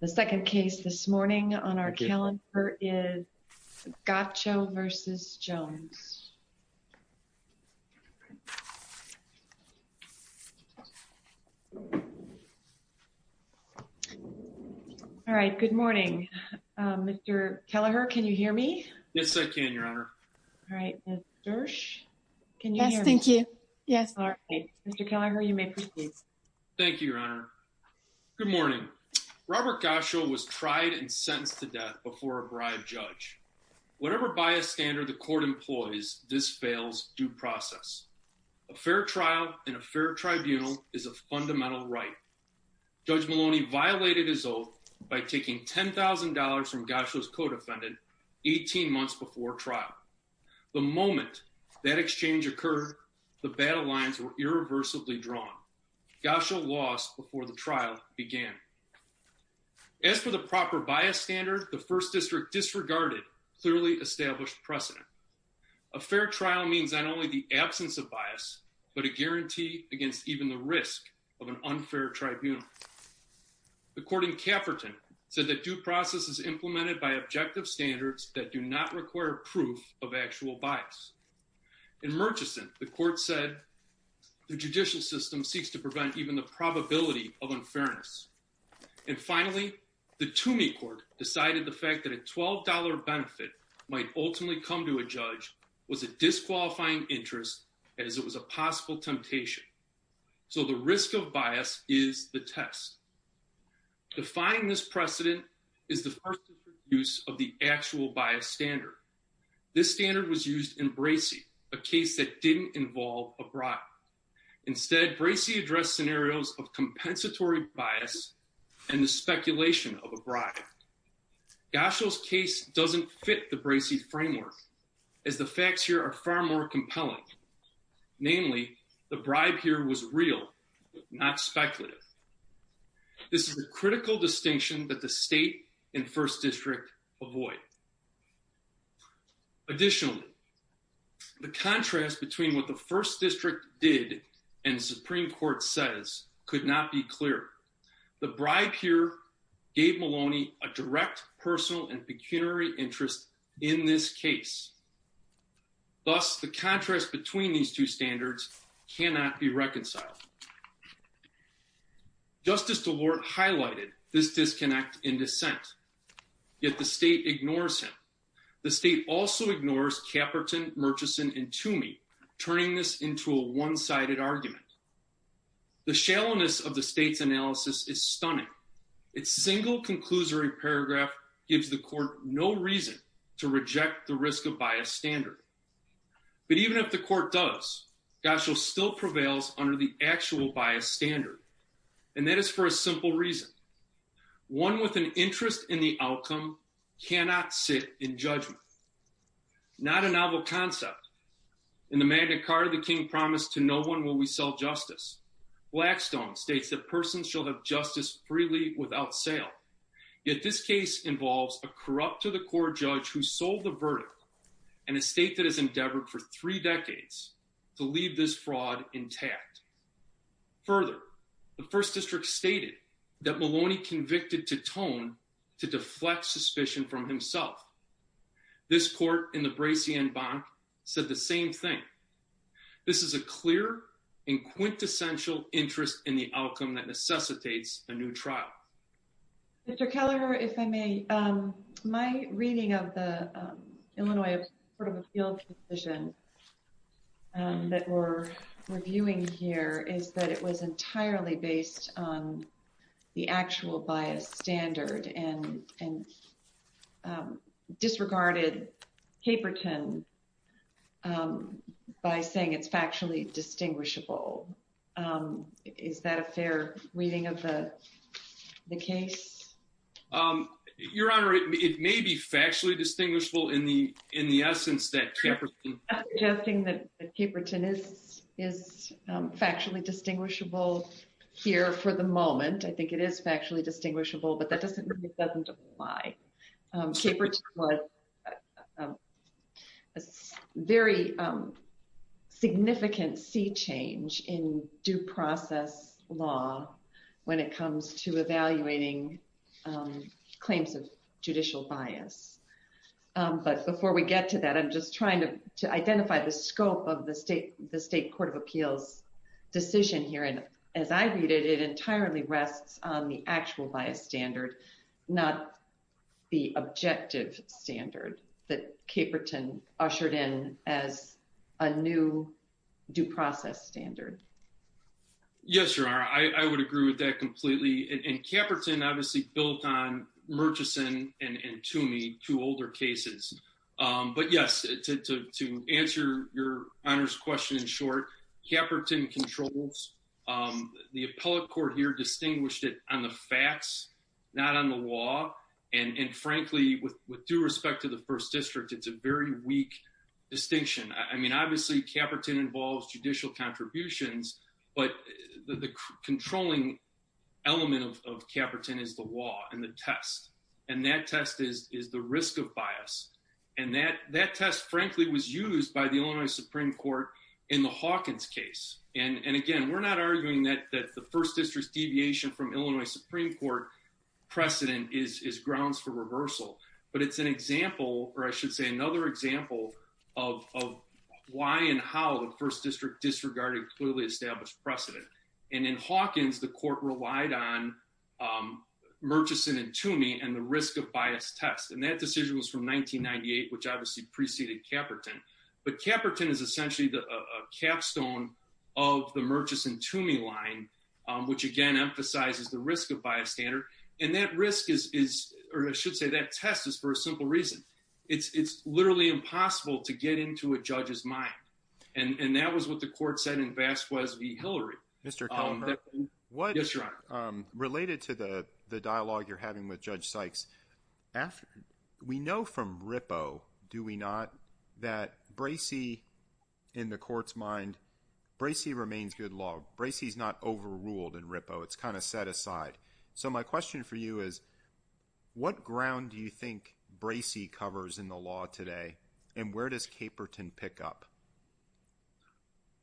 The second case this morning on our calendar is Gacho v. Jones. All right, good morning. Mr. Kelleher, can you hear me? Yes, I can, Your Honor. All right. Ms. Dersh, can you hear me? Yes, thank you. Mr. Kelleher, you may proceed. Thank you, Your Honor. Good morning. Robert Gacho was tried and sentenced to death before a bribed judge. Whatever bias standard the court employs, this fails due process. A fair trial in a fair tribunal is a fundamental right. Judge Maloney violated his oath by taking $10,000 from Gacho's co-defendant 18 months before trial. The moment that exchange occurred, the battle lines were irreversibly drawn. Gacho lost before the trial began. As for the proper bias standard, the First District disregarded clearly established precedent. A fair trial means not only the absence of bias, but a guarantee against even the risk of an unfair tribunal. The court in Cafferton said that due process is implemented by objective standards that do not require proof of actual bias. In Murchison, the court said the judicial system seeks to prevent even the probability of unfairness. And finally, the Toomey Court decided the fact that a $12 benefit might ultimately come to a judge was a disqualifying interest as it was a possible temptation. So the risk of bias is the test. Defining this precedent is the first use of the actual bias standard. This standard was used in Bracey, a case that didn't involve a bribe. Instead, Bracey addressed scenarios of compensatory bias and the speculation of a bribe. Gacho's case doesn't fit the Bracey framework, as the facts here are far more compelling. Namely, the bribe here was real, not speculative. This is a critical distinction that the state and first district avoid. Additionally, the contrast between what the first district did and Supreme Court says could not be clearer. The bribe here gave Maloney a direct personal and pecuniary interest in this case. Thus, the contrast between these two standards cannot be reconciled. Justice DeLorte highlighted this disconnect in dissent. Yet the state ignores him. The state also ignores Caperton, Murchison, and Toomey, turning this into a one-sided argument. The shallowness of the state's analysis is stunning. Its single conclusory paragraph gives the court no reason to reject the risk of bias standard. But even if the court does, Gacho still prevails under the actual bias standard. And that is for a simple reason. One with an interest in the outcome cannot sit in judgment. Not a novel concept. In the Magna Carta, the king promised, to no one will we sell justice. Blackstone states that persons shall have justice freely without sale. Yet this case involves a corrupt to the core judge who sold the verdict. And a state that has endeavored for three decades to leave this fraud intact. Further, the first district stated that Maloney convicted Titone to deflect suspicion from himself. This court in the Bracien Banque said the same thing. This is a clear and quintessential interest in the outcome that necessitates a new trial. Mr. Keller, if I may. My reading of the Illinois Court of Appeals decision that we're reviewing here is that it was entirely based on the actual bias standard. And disregarded paperton by saying it's factually distinguishable. Is that a fair reading of the case? Your Honor, it may be factually distinguishable in the essence that paperton. I'm suggesting that paperton is factually distinguishable here for the moment. I think it is factually distinguishable, but that doesn't apply. Paperton was a very significant sea change in due process law when it comes to evaluating claims of judicial bias. But before we get to that, I'm just trying to identify the scope of the state, the state court of appeals decision here. And as I read it, it entirely rests on the actual bias standard, not the objective standard that paperton ushered in as a new due process standard. Yes, Your Honor, I would agree with that completely. And paperton obviously built on Murchison and Toomey, two older cases. But yes, to answer Your Honor's question in short, paperton controls the appellate court here, distinguished it on the facts, not on the law. And frankly, with due respect to the first district, it's a very weak distinction. I mean, obviously, paperton involves judicial contributions, but the controlling element of paperton is the law and the test. And that test is the risk of bias. And that test, frankly, was used by the Illinois Supreme Court in the Hawkins case. And again, we're not arguing that the first district's deviation from Illinois Supreme Court precedent is grounds for reversal. But it's an example, or I should say another example of why and how the first district disregarded clearly established precedent. And in Hawkins, the court relied on Murchison and Toomey and the risk of bias test. And that decision was from 1998, which obviously preceded paperton. But paperton is essentially the capstone of the Murchison Toomey line, which, again, emphasizes the risk of bias standard. And that risk is or I should say that test is for a simple reason. It's literally impossible to get into a judge's mind. And that was what the court said in Vasquez v. Hillary. Mr. Conrad. Yes, your honor. Related to the dialogue you're having with Judge Sykes, we know from Rippo, do we not, that Bracey in the court's mind, Bracey remains good law. Bracey is not overruled in Rippo. It's kind of set aside. So my question for you is, what ground do you think Bracey covers in the law today? And where does Caperton pick up?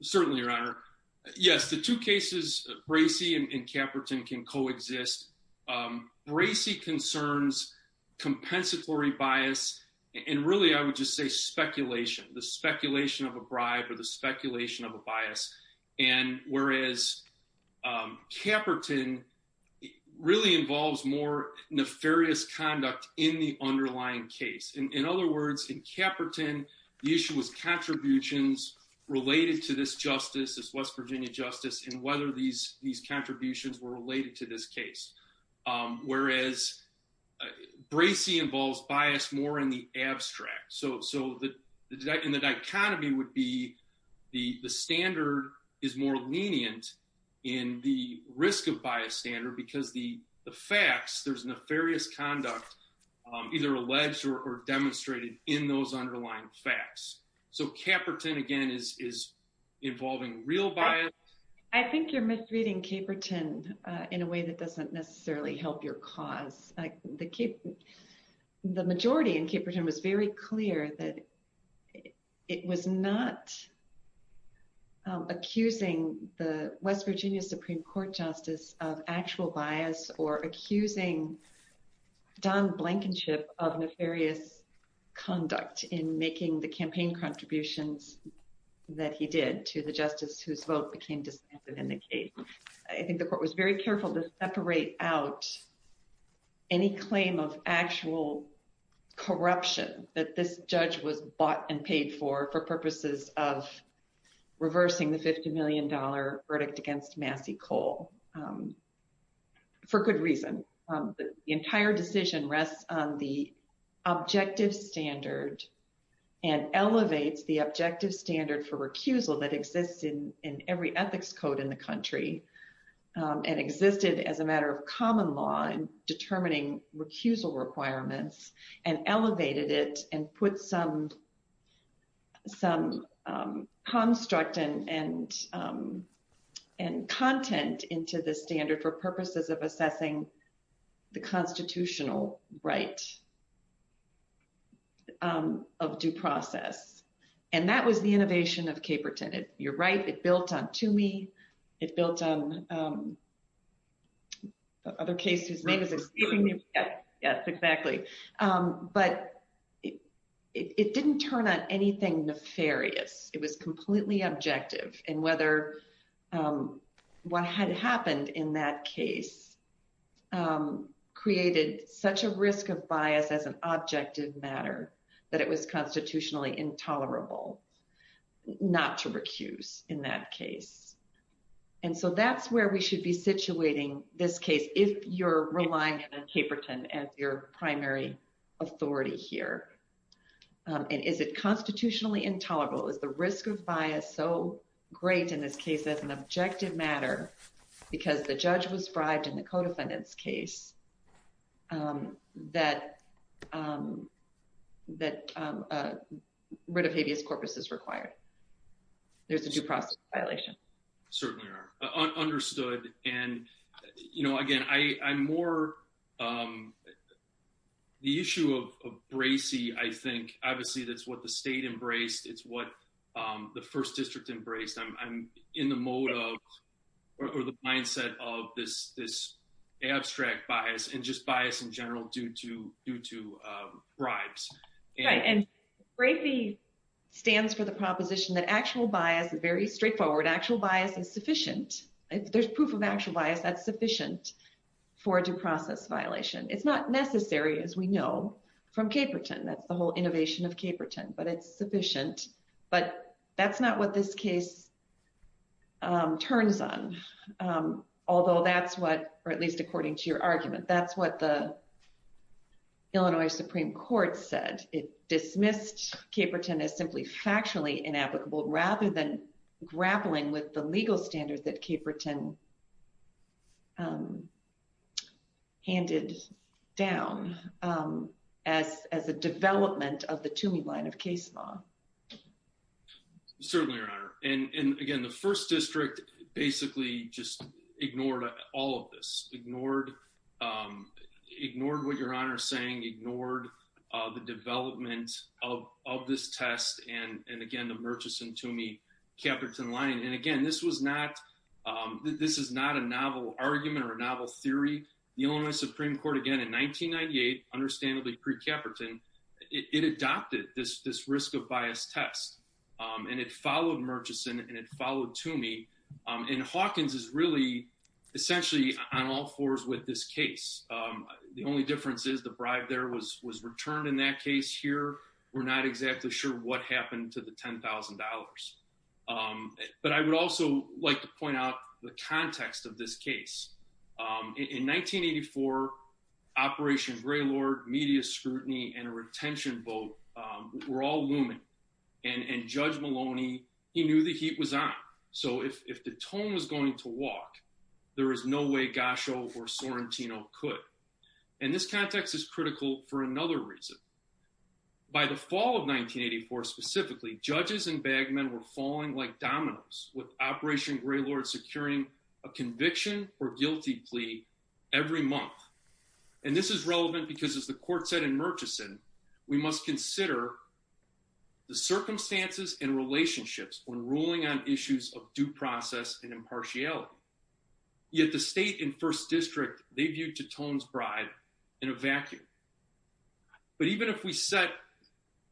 Certainly, your honor. Yes, the two cases, Bracey and Caperton can coexist. Bracey concerns compensatory bias. And really, I would just say speculation, the speculation of a bribe or the speculation of a bias. And whereas, Caperton really involves more nefarious conduct in the underlying case. In other words, in Caperton, the issue was contributions related to this justice, this West Virginia justice, and whether these contributions were related to this case. Whereas, Bracey involves bias more in the abstract. So the dichotomy would be the standard is more lenient in the risk of bias standard because the facts, there's nefarious conduct, either alleged or demonstrated in those underlying facts. So Caperton, again, is involving real bias. I think you're misreading Caperton in a way that doesn't necessarily help your cause. The majority in Caperton was very clear that it was not accusing the West Virginia Supreme Court justice of actual bias or accusing Don Blankenship of nefarious conduct in making the campaign contributions that he did to the justice whose vote became disbanded in the case. I think the court was very careful to separate out any claim of actual corruption that this judge was bought and paid for, for purposes of reversing the $50 million verdict against Massey Cole, for good reason. The entire decision rests on the objective standard and elevates the objective standard for recusal that exists in every ethics code in the country and existed as a matter of common law in determining recusal requirements and elevated it and put some construct and content into the standard for purposes of assessing the constitutional right of due process. And that was the innovation of Caperton. You're right, it built on Toomey, it built on other cases. Yes, exactly. But it didn't turn on anything nefarious. It was completely objective and whether what had happened in that case created such a risk of bias as an objective matter that it was constitutionally intolerable not to recuse in that case. And so that's where we should be situating this case, if you're relying on Caperton as your primary authority here. And is it constitutionally intolerable, is the risk of bias so great in this case as an objective matter, because the judge was bribed in the co-defendants case that that writ of habeas corpus is required. There's a due process violation. Certainly are understood. And, you know, again, I'm more the issue of Bracey, I think, obviously, that's what the state embraced. It's what the first district embraced. I'm in the mode of or the mindset of this, this abstract bias and just bias in general due to due to bribes. And Bracey stands for the proposition that actual bias is very straightforward actual bias is sufficient. There's proof of actual bias that's sufficient for due process violation. It's not necessary as we know from Caperton that's the whole innovation of Caperton but it's sufficient, but that's not what this case turns on. Although that's what, or at least according to your argument, that's what the Illinois Supreme Court said it dismissed Caperton is simply factually inapplicable rather than grappling with the legal standards that Caperton handed down as as a development of the to me line of case law. Certainly your honor. And again, the first district basically just ignored all of this ignored ignored what your honor saying ignored the development of this test. And again, the Murchison to me, Caperton line. And again, this was not, this is not a novel argument or a novel theory. The Illinois Supreme Court again in 1998, understandably pre-Caperton, it adopted this, this risk of bias test and it followed Murchison and it followed to me. And Hawkins is really essentially on all fours with this case. The only difference is the bribe there was was returned in that case here. We're not exactly sure what happened to the $10,000. But I would also like to point out the context of this case. In 1984, Operation Greylord, media scrutiny, and a retention vote were all looming. And Judge Maloney, he knew the heat was on. So if the tone was going to walk, there is no way Gasho or Sorrentino could. And this context is critical for another reason. By the fall of 1984 specifically, judges and bag men were falling like dominoes with Operation Greylord securing a conviction or guilty plea every month. And this is relevant because as the court said in Murchison, we must consider the circumstances and relationships when ruling on issues of due process and impartiality. Yet the state in first district, they viewed Teton's bribe in a vacuum. But even if we set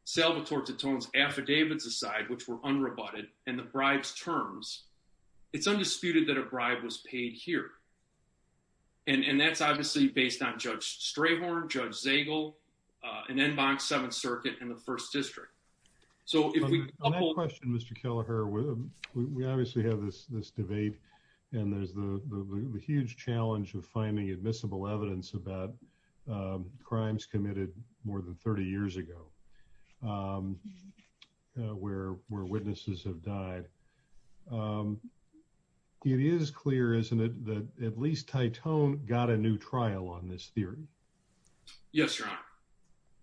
Salvatore Teton's affidavits aside, which were unrebutted, and the bribes terms, it's undisputed that a bribe was paid here. And that's obviously based on Judge Strayhorn, Judge Zagel, and Enbox Seventh Circuit in the first district. So if we- On that question, Mr. Kelleher, we obviously have this debate. And there's the huge challenge of finding admissible evidence about crimes committed more than 30 years ago where witnesses have died. It is clear, isn't it, that at least Teton got a new trial on this theory? Yes, Your Honor.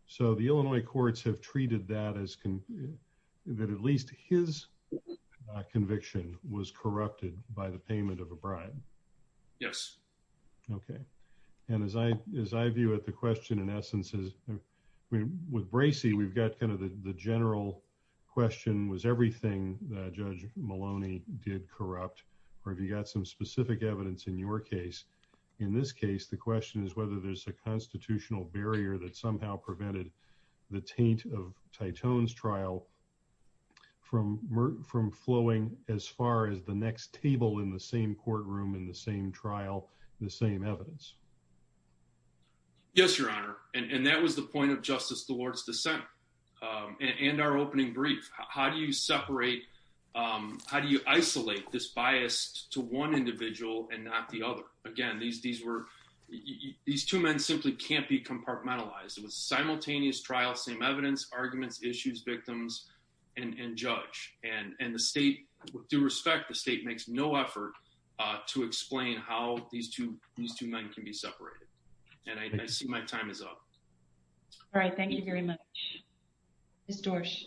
So the Illinois courts have treated that as- that at least his conviction was corrupted by the payment of a bribe? Yes. Okay. And as I view it, the question in essence is- with Bracey, we've got kind of the general question, was everything that Judge Maloney did corrupt? Or have you got some specific evidence in your case? In this case, the question is whether there's a constitutional barrier that somehow prevented the taint of Teton's trial from flowing as far as the next table in the same courtroom, in the same trial, the same evidence. Yes, Your Honor. And that was the point of Justice DeWard's dissent and our opening brief. How do you separate- how do you isolate this bias to one individual and not the other? Again, these were- these two men simply can't be compartmentalized. It was simultaneous trial, same evidence, arguments, issues, victims, and judge. And the state, with due respect, the state makes no effort to explain how these two men can be separated. And I see my time is up. All right. Thank you very much. Ms. Dorsch.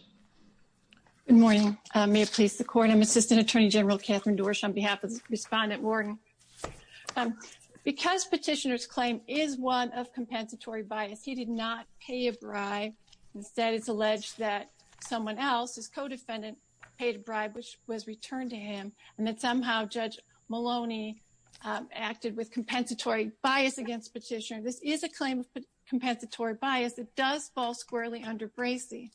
Good morning. May it please the Court. I'm Assistant Attorney General Catherine Dorsch on behalf of Respondent Wharton. Because Petitioner's claim is one of compensatory bias, he did not pay a bribe. Instead, it's alleged that someone else, his co-defendant, paid a bribe, which was returned to him, and that somehow Judge Maloney acted with compensatory bias against Petitioner. This is a claim of compensatory bias. It does fall squarely under Bracey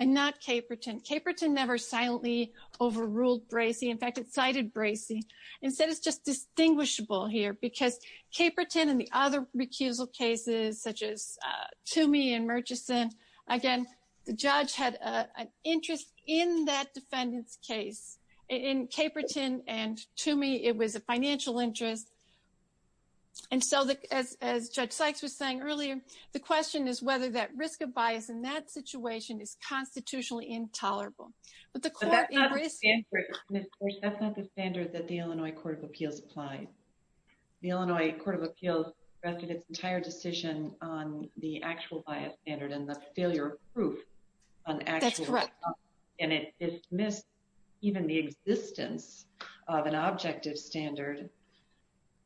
and not Caperton. Caperton never silently overruled Bracey. In fact, it cited Bracey. Instead, it's just distinguishable here because Caperton and the other recusal cases, such as Toomey and Murchison, again, the judge had an interest in that defendant's case. In Caperton and Toomey, it was a financial interest. And so, as Judge Sykes was saying earlier, the question is whether that risk of bias in that situation is constitutionally intolerable. But the Court in Bracey… But that's not the standard, Ms. Dorsch. That's not the standard that the Illinois Court of Appeals applied. The Illinois Court of Appeals rested its entire decision on the actual bias standard and the failure of proof on actual… That's correct. And it dismissed even the existence of an objective standard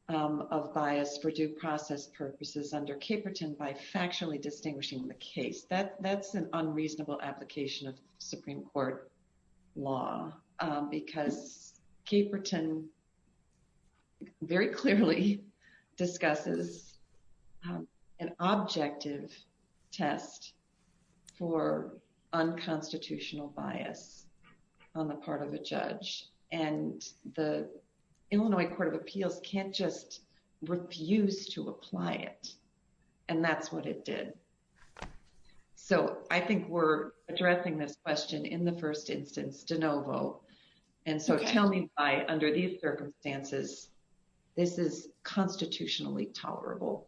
of bias for due process purposes under Caperton by factually distinguishing the case. That's an unreasonable application of Supreme Court law because Caperton very clearly discusses an objective test for unconstitutional bias on the part of a judge. And the Illinois Court of Appeals can't just refuse to apply it. And that's what it did. So, I think we're addressing this question in the first instance de novo. And so, tell me why, under these circumstances, this is constitutionally tolerable.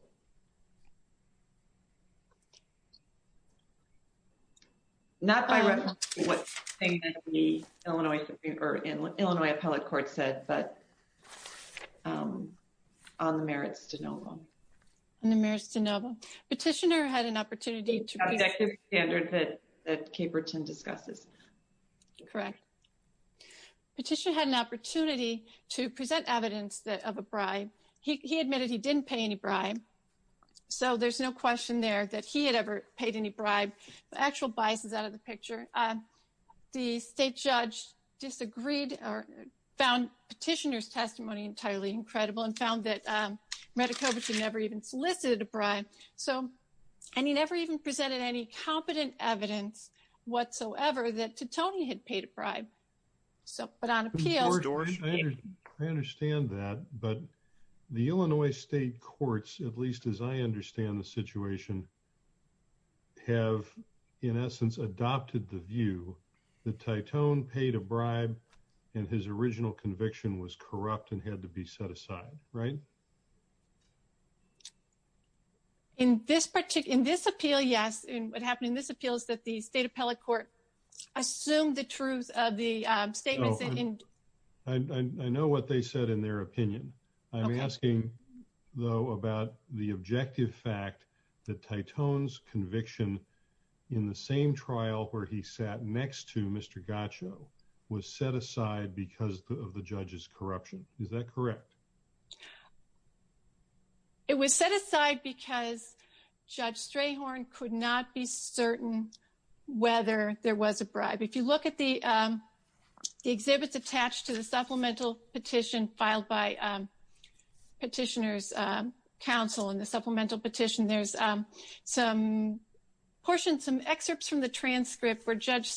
Not by reference to what the Illinois appellate court said, but on the merits de novo. On the merits de novo. Petitioner had an opportunity to… Objective standard that Caperton discusses. Correct. Petitioner had an opportunity to present evidence of a bribe. He admitted he didn't pay any bribe. So, there's no question there that he had ever paid any bribe. The actual bias is out of the picture. The state judge disagreed or found petitioner's testimony entirely incredible and found that Medekovich had never even solicited a bribe. So, and he never even presented any competent evidence whatsoever that Titone had paid a bribe. I understand that, but the Illinois state courts, at least as I understand the situation, have, in essence, adopted the view that Titone paid a bribe and his original conviction was corrupt and had to be set aside. Right? In this particular, in this appeal, yes. What happened in this appeal is that the state appellate court assumed the truth of the statement. I know what they said in their opinion. I'm asking, though, about the objective fact that Titone's conviction in the same trial where he sat next to Mr. Gaccio was set aside because of the judge's corruption. Is that correct? It was set aside because Judge Strayhorn could not be certain whether there was a bribe. If you look at the exhibits attached to the supplemental petition filed by petitioner's counsel in the supplemental petition, there's some portions, some excerpts from the transcript where Judge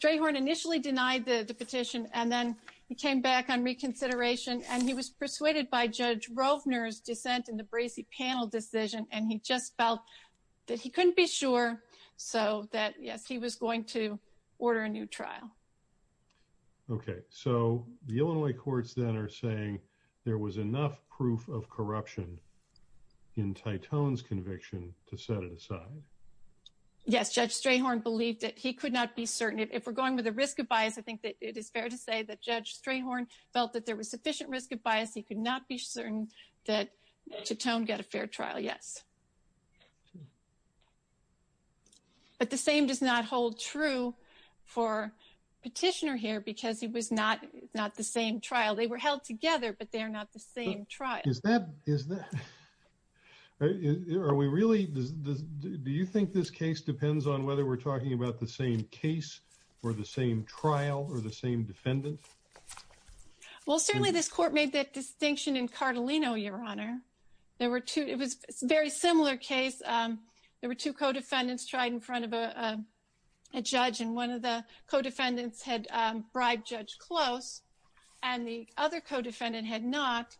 Strayhorn initially denied the petition, and then he came back on reconsideration, and he was persuaded by Judge Rovner's dissent in the Bracey panel decision, and he just felt that he couldn't be sure. So that, yes, he was going to order a new trial. Okay, so the Illinois courts then are saying there was enough proof of corruption in Titone's conviction to set it aside. Yes, Judge Strayhorn believed that he could not be certain. If we're going with a risk of bias, I think that it is fair to say that Judge Strayhorn felt that there was sufficient risk of bias. He could not be certain that Titone got a fair trial. Yes. But the same does not hold true for petitioner here because it was not the same trial. They were held together, but they're not the same trial. Is that, are we really, do you think this case depends on whether we're talking about the same case or the same trial or the same defendant? Well, certainly this court made that distinction in Cartolino, Your Honor. There were two, it was a very similar case. There were two co-defendants tried in front of a judge, and one of the co-defendants had bribed Judge Close, and the other co-defendant had not.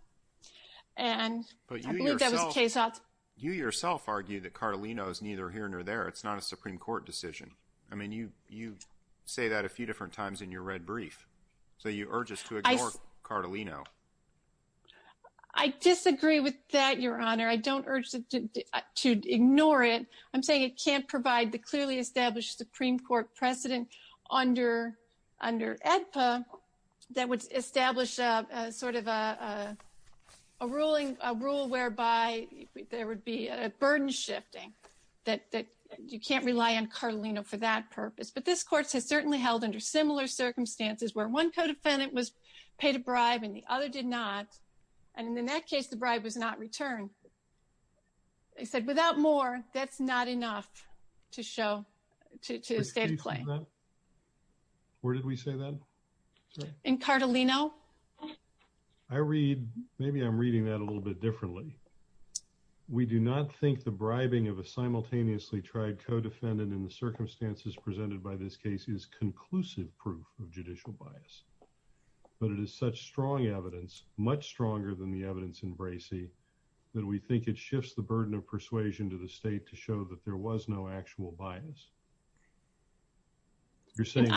And I believe that was a case out. But you yourself argue that Cartolino is neither here nor there. It's not a Supreme Court decision. I mean, you say that a few different times in your red brief. So you urge us to ignore Cartolino. I disagree with that, Your Honor. I don't urge to ignore it. I'm saying it can't provide the clearly established Supreme Court precedent under EDPA that would establish sort of a ruling, a rule whereby there would be a burden shifting that you can't rely on Cartolino for that purpose. But this court has certainly held under similar circumstances where one co-defendant was paid a bribe and the other did not. And in that case, the bribe was not returned. They said without more, that's not enough to show, to state a claim. Where did we say that? In Cartolino. I read, maybe I'm reading that a little bit differently. We do not think the bribing of a simultaneously tried co-defendant in the circumstances presented by this case is conclusive proof of judicial bias. But it is such strong evidence, much stronger than the evidence in Bracey, that we think it shifts the burden of persuasion to the state to show that there was no actual bias. You're saying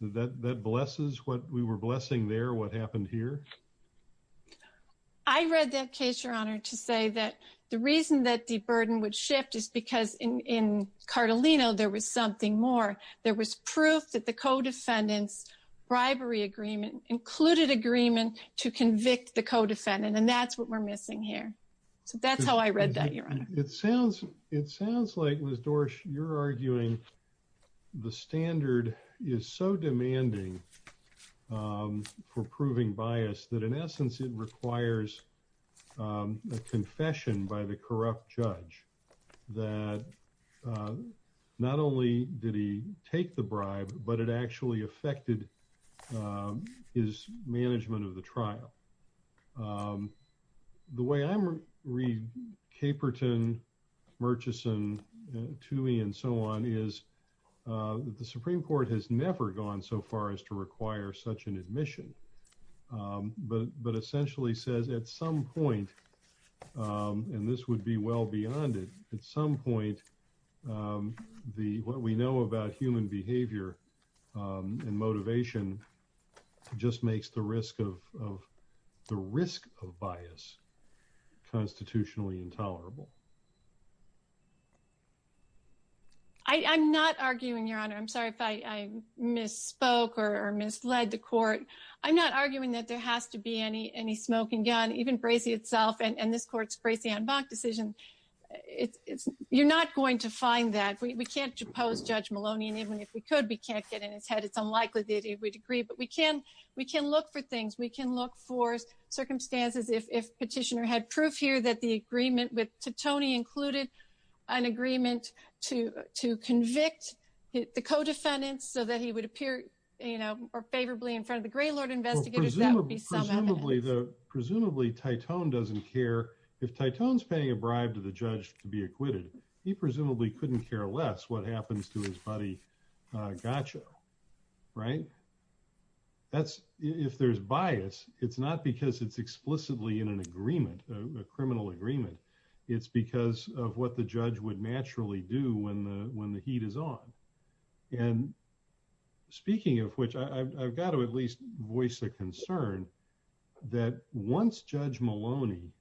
that that blesses what we were blessing there, what happened here? I read that case, Your Honor, to say that the reason that the burden would shift is because in Cartolino there was something more. There was proof that the co-defendants bribery agreement included agreement to convict the co-defendant. And that's what we're missing here. So that's how I read that, Your Honor. It sounds like, Ms. Dorsch, you're arguing the standard is so demanding for proving bias that in essence it requires a confession by the corrupt judge. That not only did he take the bribe, but it actually affected his management of the trial. The way I read Caperton, Murchison, Toohey, and so on is the Supreme Court has never gone so far as to require such an admission. But essentially says at some point, and this would be well beyond it, at some point, what we know about human behavior and motivation just makes the risk of bias constitutionally intolerable. I'm not arguing, Your Honor. I'm sorry if I misspoke or misled the court. I'm not arguing that there has to be any smoking gun. Even Bracey itself and this court's Bracey-Anne Bach decision, you're not going to find that. We can't depose Judge Maloney. And even if we could, we can't get in his head. It's unlikely that he would agree. But we can look for things. We can look for circumstances. If Petitioner had proof here that the agreement with Titone included an agreement to convict the co-defendants so that he would appear favorably in front of the Graylord investigators, that would be some evidence. Presumably, Titone doesn't care. If Titone's paying a bribe to the judge to be acquitted, he presumably couldn't care less what happens to his buddy Gaccio, right? If there's bias, it's not because it's explicitly in an agreement, a criminal agreement. It's because of what the judge would naturally do when the heat is on. And speaking of which, I've got to at least voice a concern that once Judge Maloney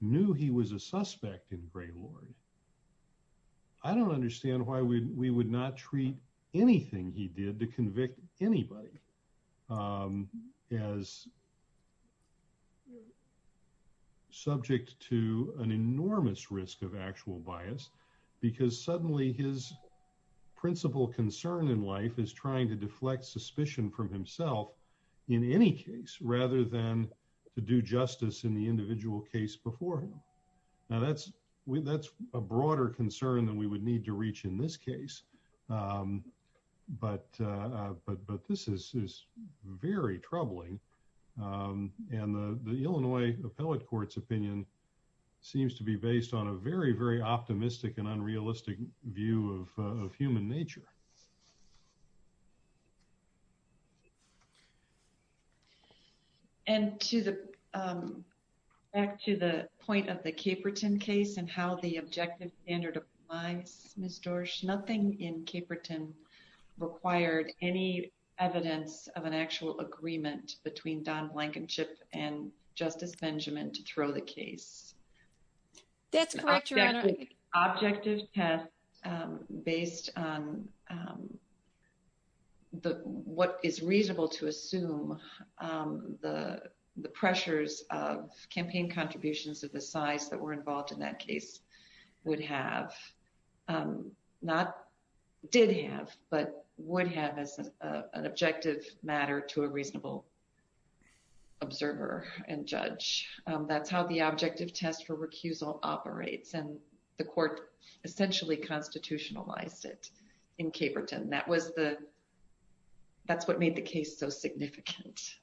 knew he was a suspect in Graylord, I don't understand why we would not treat anything he did to convict anybody as subject to an enormous risk of actual bias. Because suddenly his principal concern in life is trying to deflect suspicion from himself in any case rather than to do justice in the individual case before him. Now, that's a broader concern than we would need to reach in this case. But this is very troubling. And the Illinois Appellate Court's opinion seems to be based on a very, very optimistic and unrealistic view of human nature. And back to the point of the Caperton case and how the objective standard applies, Ms. Dorsch, nothing in Caperton required any evidence of an actual agreement between Don Blankenship and Justice Benjamin to throw the case. That's correct, Your Honor. Objective test based on what is reasonable to assume the pressures of campaign contributions of the size that were involved in that case would have, not did have, but would have as an objective matter to a reasonable observer and judge. That's how the objective test for recusal operates. And the court essentially constitutionalized it in Caperton. That's what made the case so significant,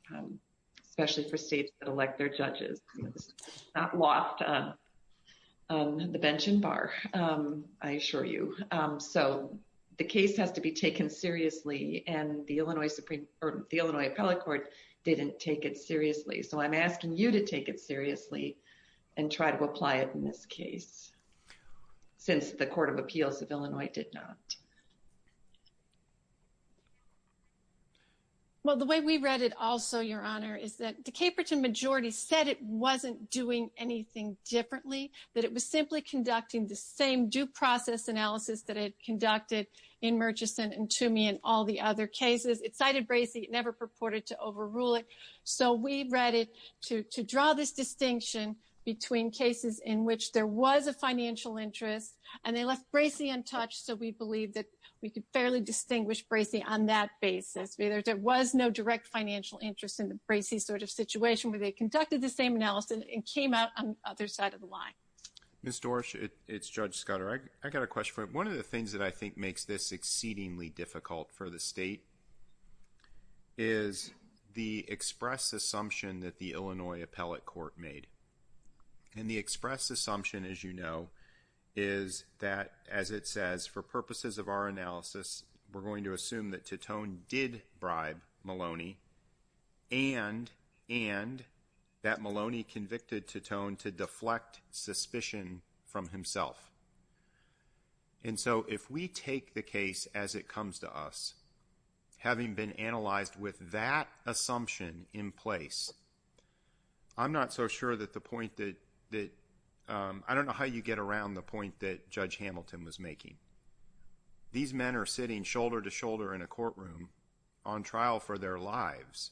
especially for states that elect their judges. It's not locked on the bench and bar, I assure you. So the case has to be taken seriously. And the Illinois Supreme Court, the Illinois Appellate Court didn't take it seriously. So I'm asking you to take it seriously and try to apply it in this case, since the Court of Appeals of Illinois did not. Well, the way we read it also, Your Honor, is that the Caperton majority said it wasn't doing anything differently, that it was simply conducting the same due process analysis that it conducted in Murchison and Toomey and all the other cases. It cited Bracey, it never purported to overrule it. So we read it to draw this distinction between cases in which there was a financial interest and they left Bracey untouched. So we believe that we could fairly distinguish Bracey on that basis. There was no direct financial interest in the Bracey sort of situation where they conducted the same analysis and came out on the other side of the line. Ms. Dorsch, it's Judge Scudder. I got a question for you. One of the things that I think makes this exceedingly difficult for the state is the express assumption that the Illinois Appellate Court made. And the express assumption, as you know, is that, as it says, for purposes of our analysis, we're going to assume that Titone did bribe Maloney and that Maloney convicted Titone to deflect suspicion from himself. And so if we take the case as it comes to us, having been analyzed with that assumption in place, I'm not so sure that the point that I don't know how you get around the point that Judge Hamilton was making. These men are sitting shoulder to shoulder in a courtroom on trial for their lives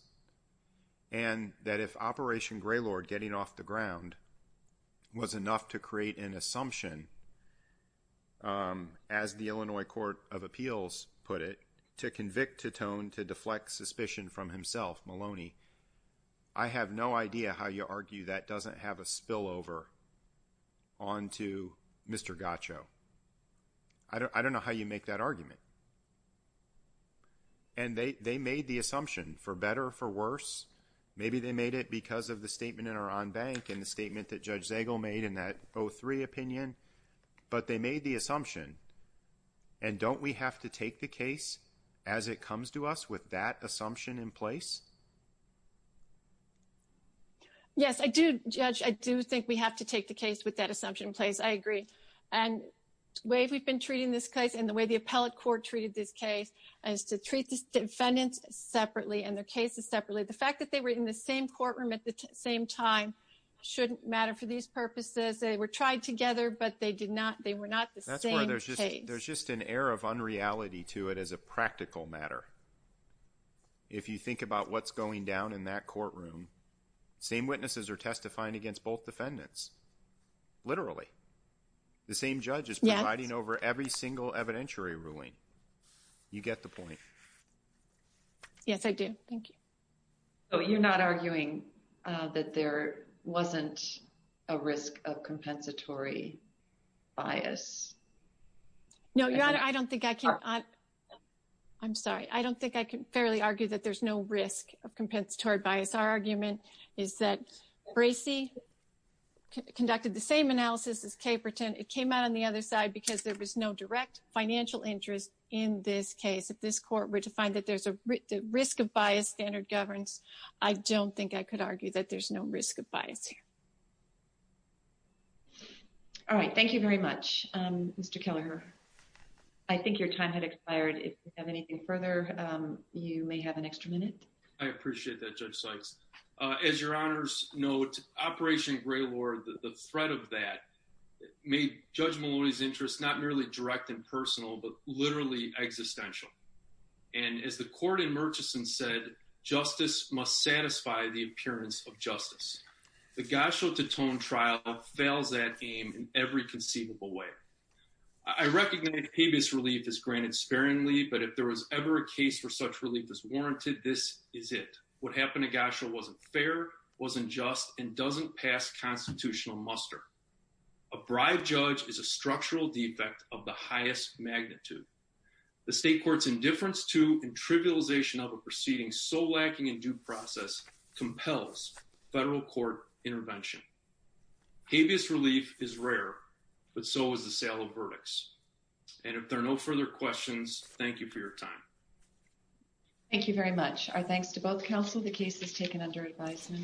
and that if Operation Greylord getting off the ground was enough to create an assumption, as the Illinois Court of Appeals put it, to convict Titone to deflect suspicion from himself, Maloney, I have no idea how you argue that doesn't have a spillover on to Mr. Gaccio. I don't know how you make that argument. And they made the assumption, for better or for worse. Maybe they made it because of the statement in our en banc and the statement that Judge Zagel made in that 03 opinion. But they made the assumption. And don't we have to take the case as it comes to us with that assumption in place? Yes, I do, Judge. I do think we have to take the case with that assumption in place. I agree. And the way we've been treating this case and the way the appellate court treated this case is to treat the defendants separately and their cases separately. The fact that they were in the same courtroom at the same time shouldn't matter for these purposes. They were tried together, but they were not the same case. There's just an air of unreality to it as a practical matter. If you think about what's going down in that courtroom, same witnesses are testifying against both defendants, literally. The same judge is providing over every single evidentiary ruling. You get the point. Yes, I do. Thank you. So you're not arguing that there wasn't a risk of compensatory bias? No, Your Honor, I don't think I can. I'm sorry. I don't think I can fairly argue that there's no risk of compensatory bias. Our argument is that Bracey conducted the same analysis as Caperton. It came out on the other side because there was no direct financial interest in this case. If this court were to find that there's a risk of biased standard governance, I don't think I could argue that there's no risk of bias here. All right. Thank you very much, Mr. Kelleher. I think your time had expired. If you have anything further, you may have an extra minute. I appreciate that, Judge Sykes. As Your Honor's note, Operation Greylord, the threat of that, made Judge Maloney's interest not merely direct and personal, but literally existential. And as the court in Murchison said, justice must satisfy the appearance of justice. The Gosho-Tetone trial fails that aim in every conceivable way. I recognize habeas relief is granted sparingly, but if there was ever a case where such relief is warranted, this is it. What happened at Gosho wasn't fair, wasn't just, and doesn't pass constitutional muster. A bribed judge is a structural defect of the highest magnitude. The state court's indifference to and trivialization of a proceeding so lacking in due process compels federal court intervention. Habeas relief is rare, but so is the sale of verdicts. And if there are no further questions, thank you for your time. Thank you very much. Our thanks to both counsel. The case is taken under advisement.